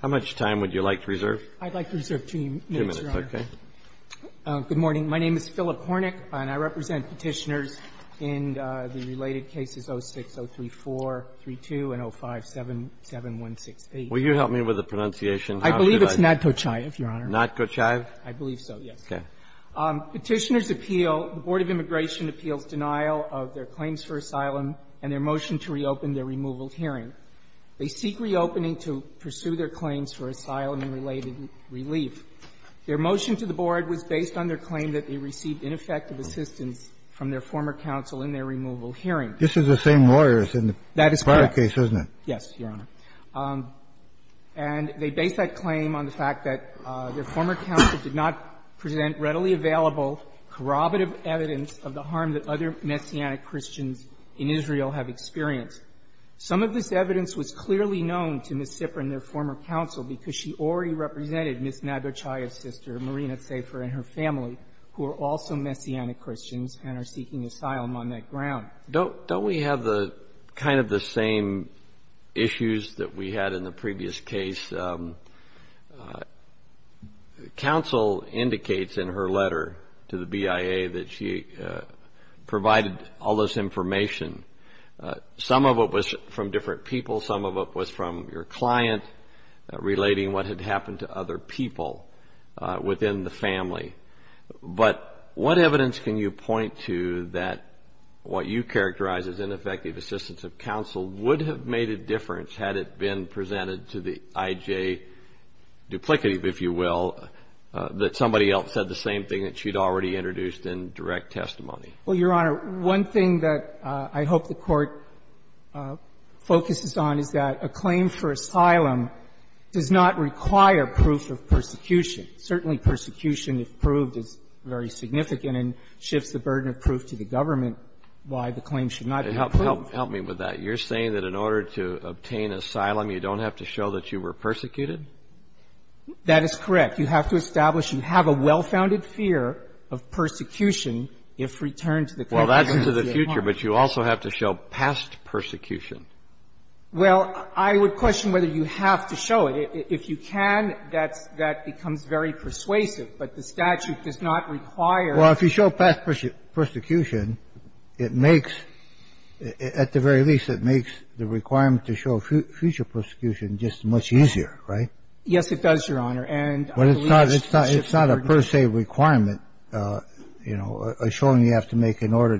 How much time would you like to reserve? I'd like to reserve two minutes, Your Honor. Two minutes, okay. Good morning. My name is Philip Hornick, and I represent Petitioners in the related cases 06-03432 and 05-77168. Will you help me with the pronunciation? I believe it's Nadtochaev, Your Honor. Nadtochaev? I believe so, yes. Okay. Petitioners appeal, the Board of Immigration appeals denial of their claims for asylum and their motion to reopen their removal hearing. They seek reopening to pursue their claims for asylum-related relief. Their motion to the Board was based on their claim that they received ineffective assistance from their former counsel in their removal hearing. This is the same lawyers in the prior case, isn't it? That is correct. Yes, Your Honor. And they base that claim on the fact that their former counsel did not present readily available corroborative evidence of the harm that other Messianic Christians in Israel have experienced. Some of this evidence was clearly known to Ms. Zipper and their former counsel because she already represented Ms. Nadtochaev's sister, Marina Zafer, and her family, who are also Messianic Christians and are seeking asylum on that ground. Don't we have the kind of the same issues that we had in the previous case? Counsel indicates in her letter to the BIA that she provided all this information. Some of it was from different people. Some of it was from your client relating what had happened to other people within the family. But what evidence can you point to that what you characterize as ineffective assistance of counsel would have made a difference had it been presented to the IJ duplicative, if you will, that somebody else said the same thing that she'd already introduced in direct testimony? Well, Your Honor, one thing that I hope the Court focuses on is that a claim for asylum does not require proof of persecution. Certainly, persecution, if proved, is very significant and shifts the burden of proof to the government why the claim should not be proved. Help me with that. You're saying that in order to obtain asylum, you don't have to show that you were persecuted? That is correct. You have to establish you have a well-founded fear of persecution if returned to the court. Well, that's into the future, but you also have to show past persecution. Well, I would question whether you have to show it. If you can, that's that becomes very persuasive, but the statute does not require Well, if you show past persecution, it makes, at the very least, it makes the requirement to show future persecution just much easier, right? Yes, it does, Your Honor. And I believe it shifts the burden. But it's not a per se requirement, you know, a showing you have to make in order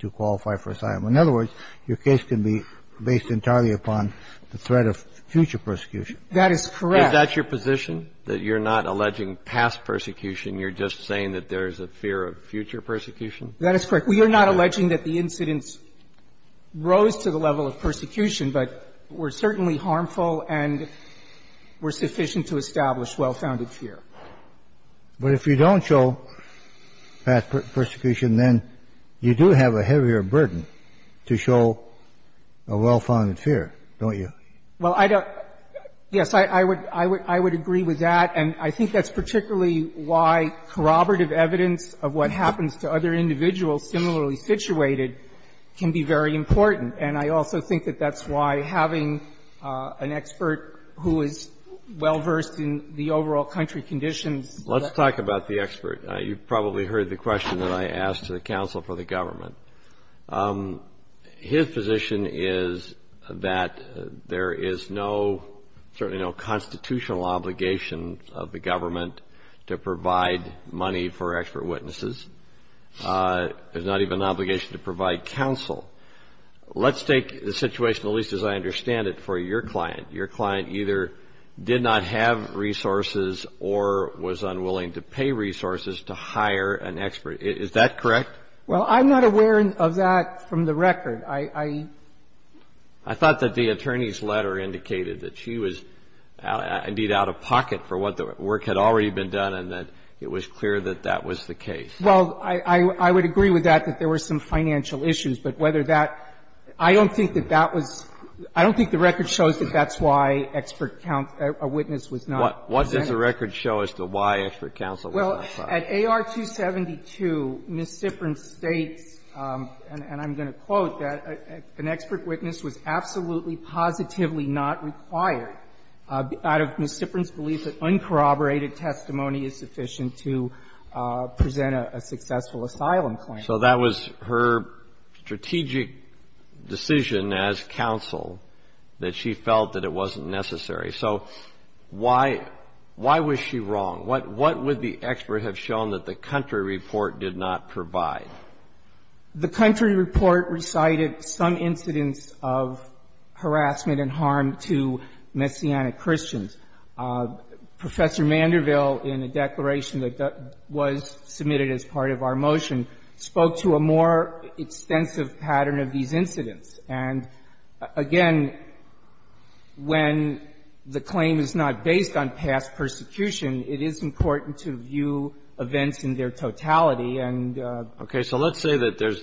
to qualify for asylum. In other words, your case can be based entirely upon the threat of future persecution. That is correct. Is that your position, that you're not alleging past persecution? You're just saying that there's a fear of future persecution? That is correct. We are not alleging that the incidents rose to the level of persecution, but were a well-founded fear. But if you don't show past persecution, then you do have a heavier burden to show a well-founded fear, don't you? Well, I don't – yes, I would agree with that. And I think that's particularly why corroborative evidence of what happens to other individuals similarly situated can be very important. And I also think that that's why having an expert who is well-versed in the overall country conditions. Let's talk about the expert. You've probably heard the question that I asked to the counsel for the government. His position is that there is no, certainly no constitutional obligation of the government to provide money for expert witnesses. There's not even an obligation to provide counsel. Let's take the situation, at least as I understand it, for your client. Your client either did not have resources or was unwilling to pay resources to hire an expert. Is that correct? Well, I'm not aware of that from the record. I thought that the attorney's letter indicated that she was, indeed, out of pocket for what the work had already been done and that it was clear that that was the case. Well, I would agree with that, that there were some financial issues. But whether that – I don't think that that was – I don't think the record shows that that's why expert counsel – a witness was not present. What does the record show as to why expert counsel was not present? Well, at AR 272, Ms. Ziffern states, and I'm going to quote, that an expert witness was absolutely positively not required out of Ms. Ziffern's belief that uncorroborated testimony is sufficient to present a successful asylum claim. So that was her strategic decision as counsel, that she felt that it wasn't necessary. So why – why was she wrong? What would the expert have shown that the country report did not provide? The country report recited some incidents of harassment and harm to Messianic Christians. Professor Manderville, in a declaration that was submitted as part of our motion, spoke to a more extensive pattern of these incidents. And again, when the claim is not based on past persecution, it is important to view events in their totality and the – Okay. So let's say that there's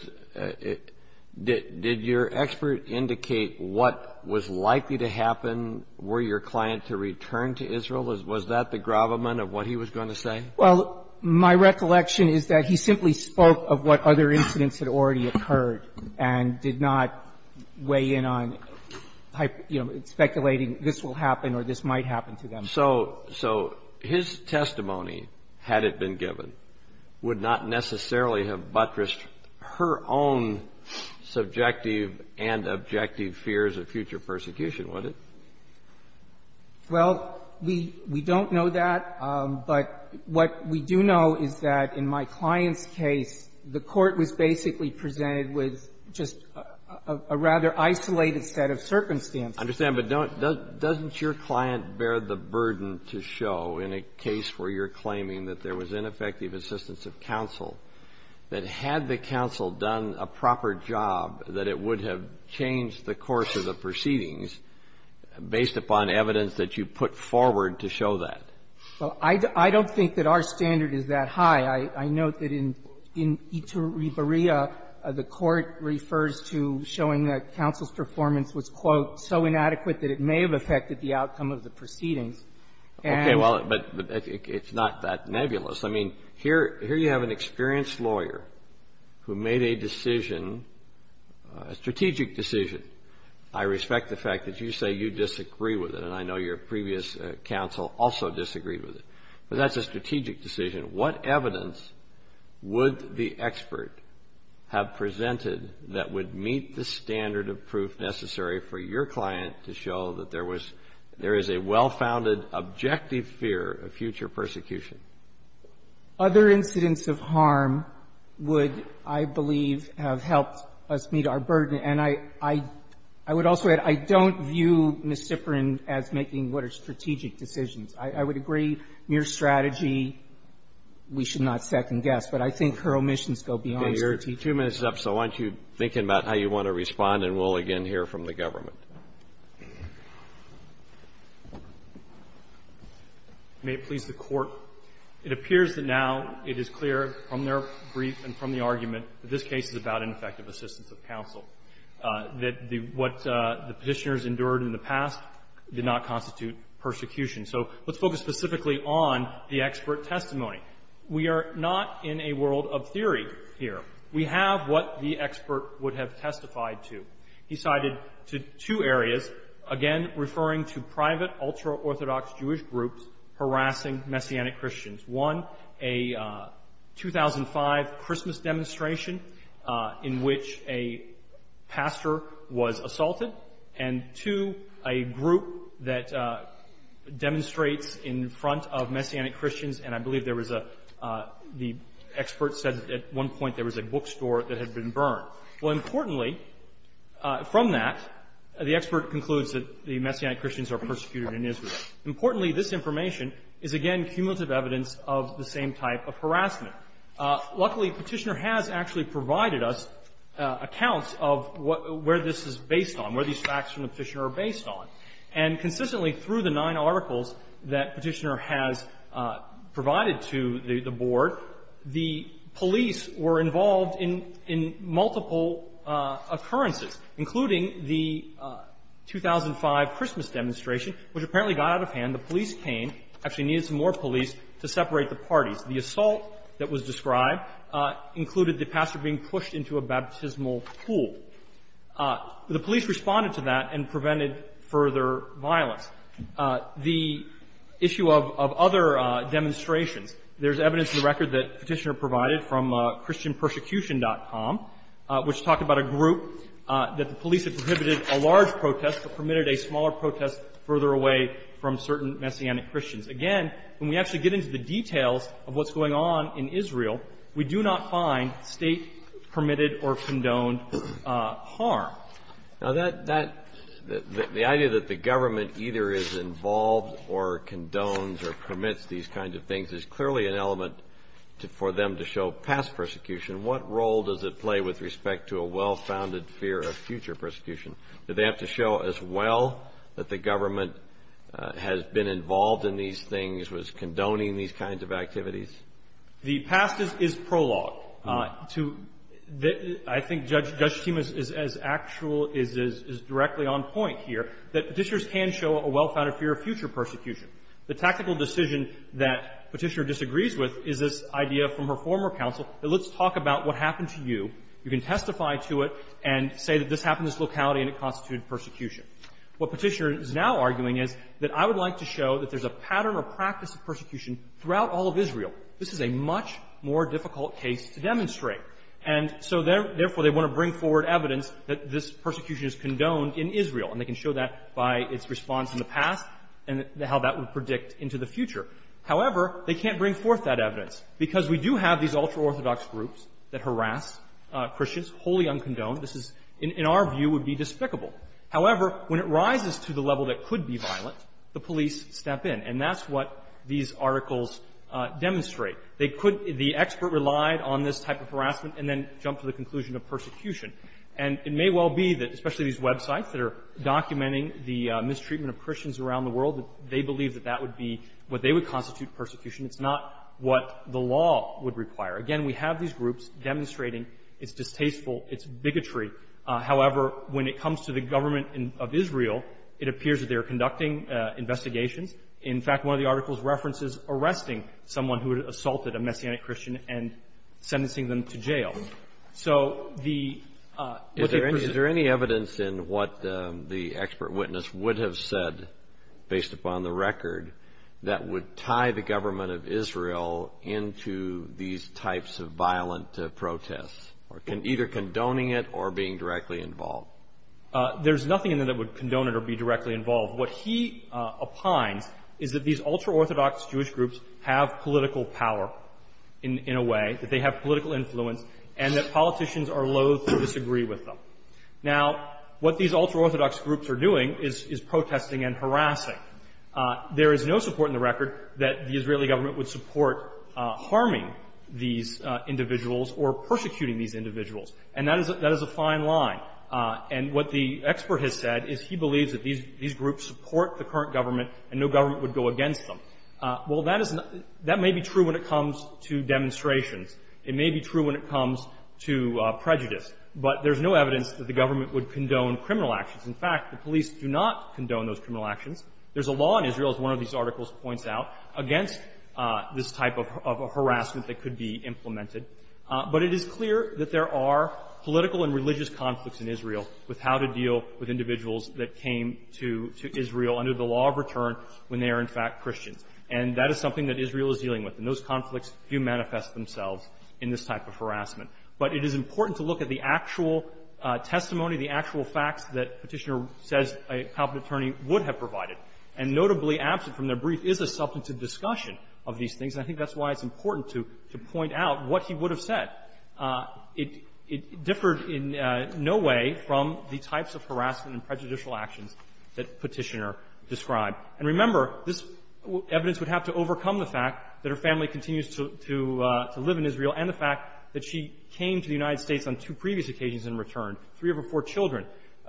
– did your expert indicate what was likely to happen? Were your client to return to Israel? Was that the gravamen of what he was going to say? Well, my recollection is that he simply spoke of what other incidents had already occurred and did not weigh in on, you know, speculating this will happen or this might happen to them. So his testimony, had it been given, would not necessarily have buttressed her own subjective and objective fears of future persecution, would it? Well, we don't know that. But what we do know is that in my client's case, the court was basically presented with just a rather isolated set of circumstances. I understand. But don't – doesn't your client bear the burden to show in a case where you're claiming that there was ineffective assistance of counsel, that had the counsel done a proper job, that it would have changed the course of the proceedings based upon evidence that you put forward to show that? Well, I don't think that our standard is that high. I note that in Iturribarilla, the court refers to showing that counsel's performance was, quote, so inadequate that it may have affected the outcome of the proceedings. And – Okay. Well, but it's not that nebulous. I mean, here you have an experienced lawyer who made a decision, a strategic decision. I respect the fact that you say you disagree with it, and I know your previous counsel also disagreed with it. But that's a strategic decision. What evidence would the expert have presented that would meet the standard of proof necessary for your client to show that there was – there is a well-founded objective fear of future persecution? Other incidents of harm would, I believe, have helped us meet our burden. And I would also add, I don't view Ms. Zipporan as making what are strategic decisions. I would agree, mere strategy, we should not second-guess. But I think her omissions go beyond strategic. Okay. Your two minutes is up, so why don't you think about how you want to respond, and we'll again hear from the government. May it please the Court, it appears that now it is clear from their brief and from the argument that this case is about ineffective assistance of counsel, that the – what the Petitioners endured in the past did not constitute persecution. So let's focus specifically on the expert testimony. We are not in a world of theory here. We have what the expert would have testified to. He cited two areas, again, referring to private ultra-Orthodox Jewish groups harassing Messianic Christians. One, a 2005 Christmas demonstration in which a pastor was assaulted. And two, a group that demonstrates in front of Messianic Christians, and I believe there was a – the expert said at one point there was a bookstore that had been burned. Well, importantly, from that, the expert concludes that the Messianic Christians are persecuted in Israel. Importantly, this information is, again, cumulative evidence of the same type of harassment. Luckily, Petitioner has actually provided us accounts of where this is based on, where these facts from the Petitioner are based on. And consistently, through the nine articles that Petitioner has provided to the court, there have been multiple occurrences, including the 2005 Christmas demonstration, which apparently got out of hand. The police came, actually needed some more police to separate the parties. The assault that was described included the pastor being pushed into a baptismal pool. The police responded to that and prevented further violence. The issue of other demonstrations, there's evidence in the record that Petitioner provided from christianpersecution.com, which talked about a group that the police had prohibited a large protest but permitted a smaller protest further away from certain Messianic Christians. Again, when we actually get into the details of what's going on in Israel, we do not find State-permitted or condoned harm. Now, that – the idea that the government either is involved or condones or permits these kinds of things is clearly an element for them to show past persecution. What role does it play with respect to a well-founded fear of future persecution? Do they have to show as well that the government has been involved in these things, was condoning these kinds of activities? The past is prologue to the – I think Judge Tsimas is as actual – is directly on point here that Petitioners can show a well-founded fear of future persecution. The tactical decision that Petitioner disagrees with is this idea from her former counsel that let's talk about what happened to you. You can testify to it and say that this happened in this locality and it constituted persecution. What Petitioner is now arguing is that I would like to show that there's a pattern or practice of persecution throughout all of Israel. This is a much more difficult case to demonstrate. And so therefore, they want to bring forward evidence that this persecution is condoned in Israel, and they can show that by its response in the past and how that would predict into the future. However, they can't bring forth that evidence, because we do have these ultra-Orthodox groups that harass Christians wholly uncondoned. This is – in our view, would be despicable. However, when it rises to the level that could be violent, the police step in. And that's what these articles demonstrate. They could – the expert relied on this type of harassment and then jumped to the conclusion of persecution. And it may well be that – especially these websites that are documenting the would be what they would constitute persecution. It's not what the law would require. Again, we have these groups demonstrating it's distasteful, it's bigotry. However, when it comes to the government of Israel, it appears that they are conducting investigations. In fact, one of the articles references arresting someone who had assaulted a Messianic Christian and sentencing them to jail. So the – Kennedy. Is there any evidence in what the expert witness would have said, based upon the record, that would tie the government of Israel into these types of violent protests, either condoning it or being directly involved? There's nothing in there that would condone it or be directly involved. What he opines is that these ultra-Orthodox Jewish groups have political power in a way, that they have political influence, and that politicians are loathe to disagree with them. Now, what these ultra-Orthodox groups are doing is protesting and harassing. There is no support in the record that the Israeli government would support harming these individuals or persecuting these individuals. And that is a fine line. And what the expert has said is he believes that these groups support the current government and no government would go against them. Well, that is not – that may be true when it comes to demonstrations. It may be true when it comes to prejudice. But there's no evidence that the government would condone criminal actions. In fact, the police do not condone those criminal actions. There's a law in Israel, as one of these articles points out, against this type of harassment that could be implemented. But it is clear that there are political and religious conflicts in Israel with how to deal with individuals that came to Israel under the law of return when they are, in And that is something that Israel is dealing with. And those conflicts do manifest themselves in this type of harassment. But it is important to look at the actual testimony, the actual facts that Petitioner says a competent attorney would have provided. And notably, absent from their brief, is a substantive discussion of these things. And I think that's why it's important to point out what he would have said. It differed in no way from the types of harassment and prejudicial actions that Petitioner described. And remember, this evidence would have to overcome the fact that her family continues to live in Israel and the fact that she came to the United States on two previous occasions in return. Three of her four children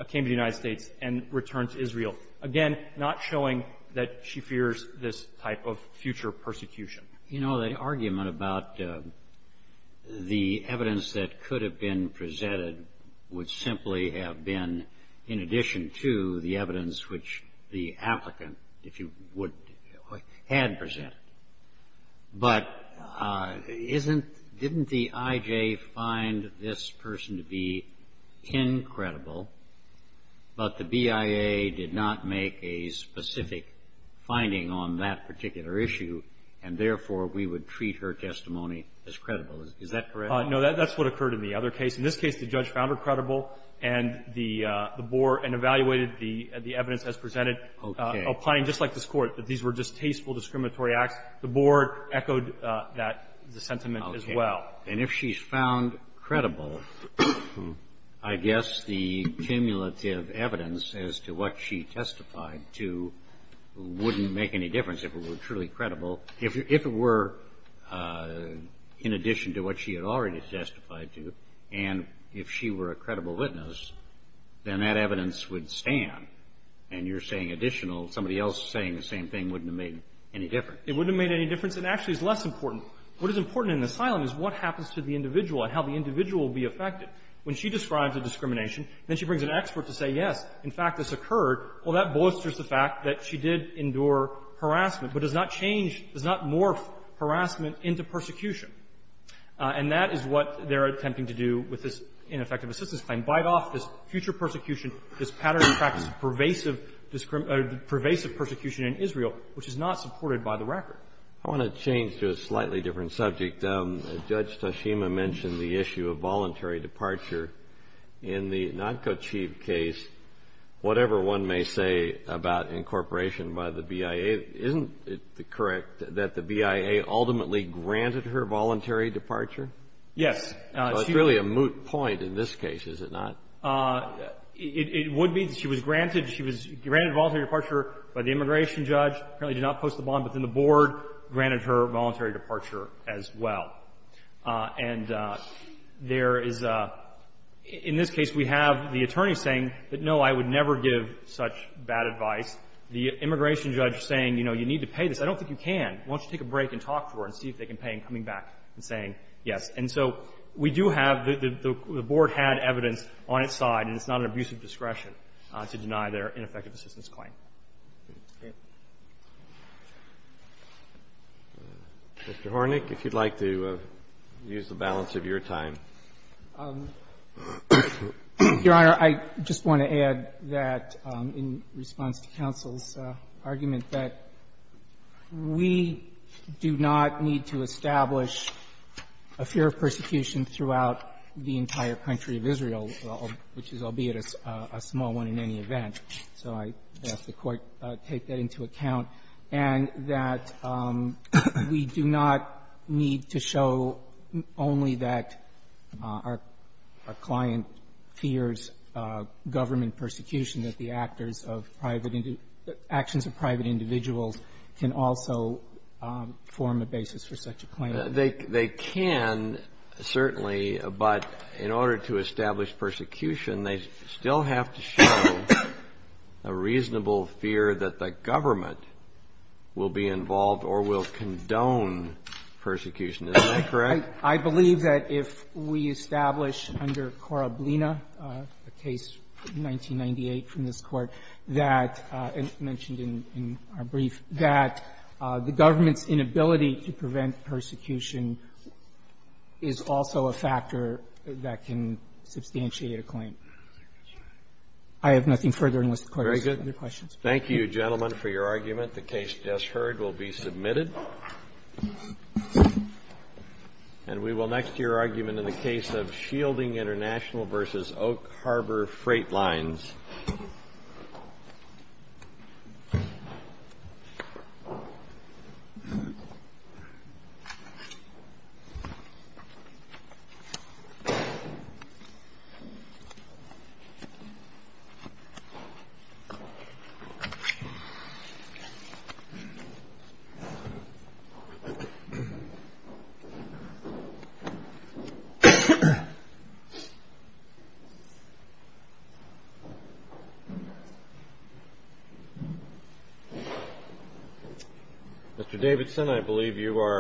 came to the United States and returned to Israel. Again, not showing that she fears this type of future persecution. You know, the argument about the evidence that could have been presented would have been, if you would, had presented, but isn't, didn't the I.J. find this person to be incredible, but the BIA did not make a specific finding on that particular issue, and therefore, we would treat her testimony as credible. Is that correct? No, that's what occurred in the other case. In this case, the judge found her credible and the board, and evaluated the evidence as presented, applying, just like this Court, that these were just tasteful discriminatory acts, the board echoed that sentiment as well. Okay. And if she's found credible, I guess the cumulative evidence as to what she testified to wouldn't make any difference if it were truly credible. If it were in addition to what she had already testified to, and if she were a credible witness, then that evidence would stand, and you're saying additional. Somebody else saying the same thing wouldn't have made any difference. It wouldn't have made any difference. And actually, it's less important. What is important in asylum is what happens to the individual and how the individual will be affected. When she describes a discrimination, then she brings an expert to say, yes, in fact, this occurred. Well, that bolsters the fact that she did endure harassment, but does not change or does not morph harassment into persecution. And that is what they're attempting to do with this ineffective assistance claim, bite off this future persecution, this pattern and practice of pervasive persecution in Israel, which is not supported by the record. I want to change to a slightly different subject. Judge Toshima mentioned the issue of voluntary departure. In the Nodko Chief case, whatever one may say about incorporation by the BIA, isn't it correct that the BIA ultimately granted her voluntary departure? Yes. So it's really a moot point in this case, is it not? It would be. She was granted. She was granted voluntary departure by the immigration judge, apparently did not post the bond within the board, granted her voluntary departure as well. And there is a — in this case, we have the attorney saying that, no, I would never give such bad advice. The immigration judge saying, you know, you need to pay this. I don't think you can. Why don't you take a break and talk to her and see if they can pay in coming back and saying yes. And so we do have — the board had evidence on its side, and it's not an abusive discretion to deny their ineffective assistance claim. Mr. Hornick, if you'd like to use the balance of your time. Your Honor, I just want to add that, in response to counsel's argument, that we do not need to establish a fear of persecution throughout the entire country of Israel, which is albeit a small one in any event. So I'd ask the Court to take that into account, and that we do not need to show only that our client fears government persecution, that the actors of private — actions of private individuals can also form a basis for such a claim. They can, certainly, but in order to establish persecution, they still have to show a reasonable fear that the government will be involved or will condone persecution. Isn't that correct? I believe that if we establish under Koroblina, a case from 1998 from this Court, that — mentioned in our brief — that the government's inability to prevent persecution is also a factor that can substantiate a claim. I have nothing further unless the Court has other questions. Thank you, gentlemen, for your argument. The case just heard will be submitted. And we will next hear argument in the case of Shielding International versus Oak Harbor Freight Lines. Mr. Davidson, I believe you are —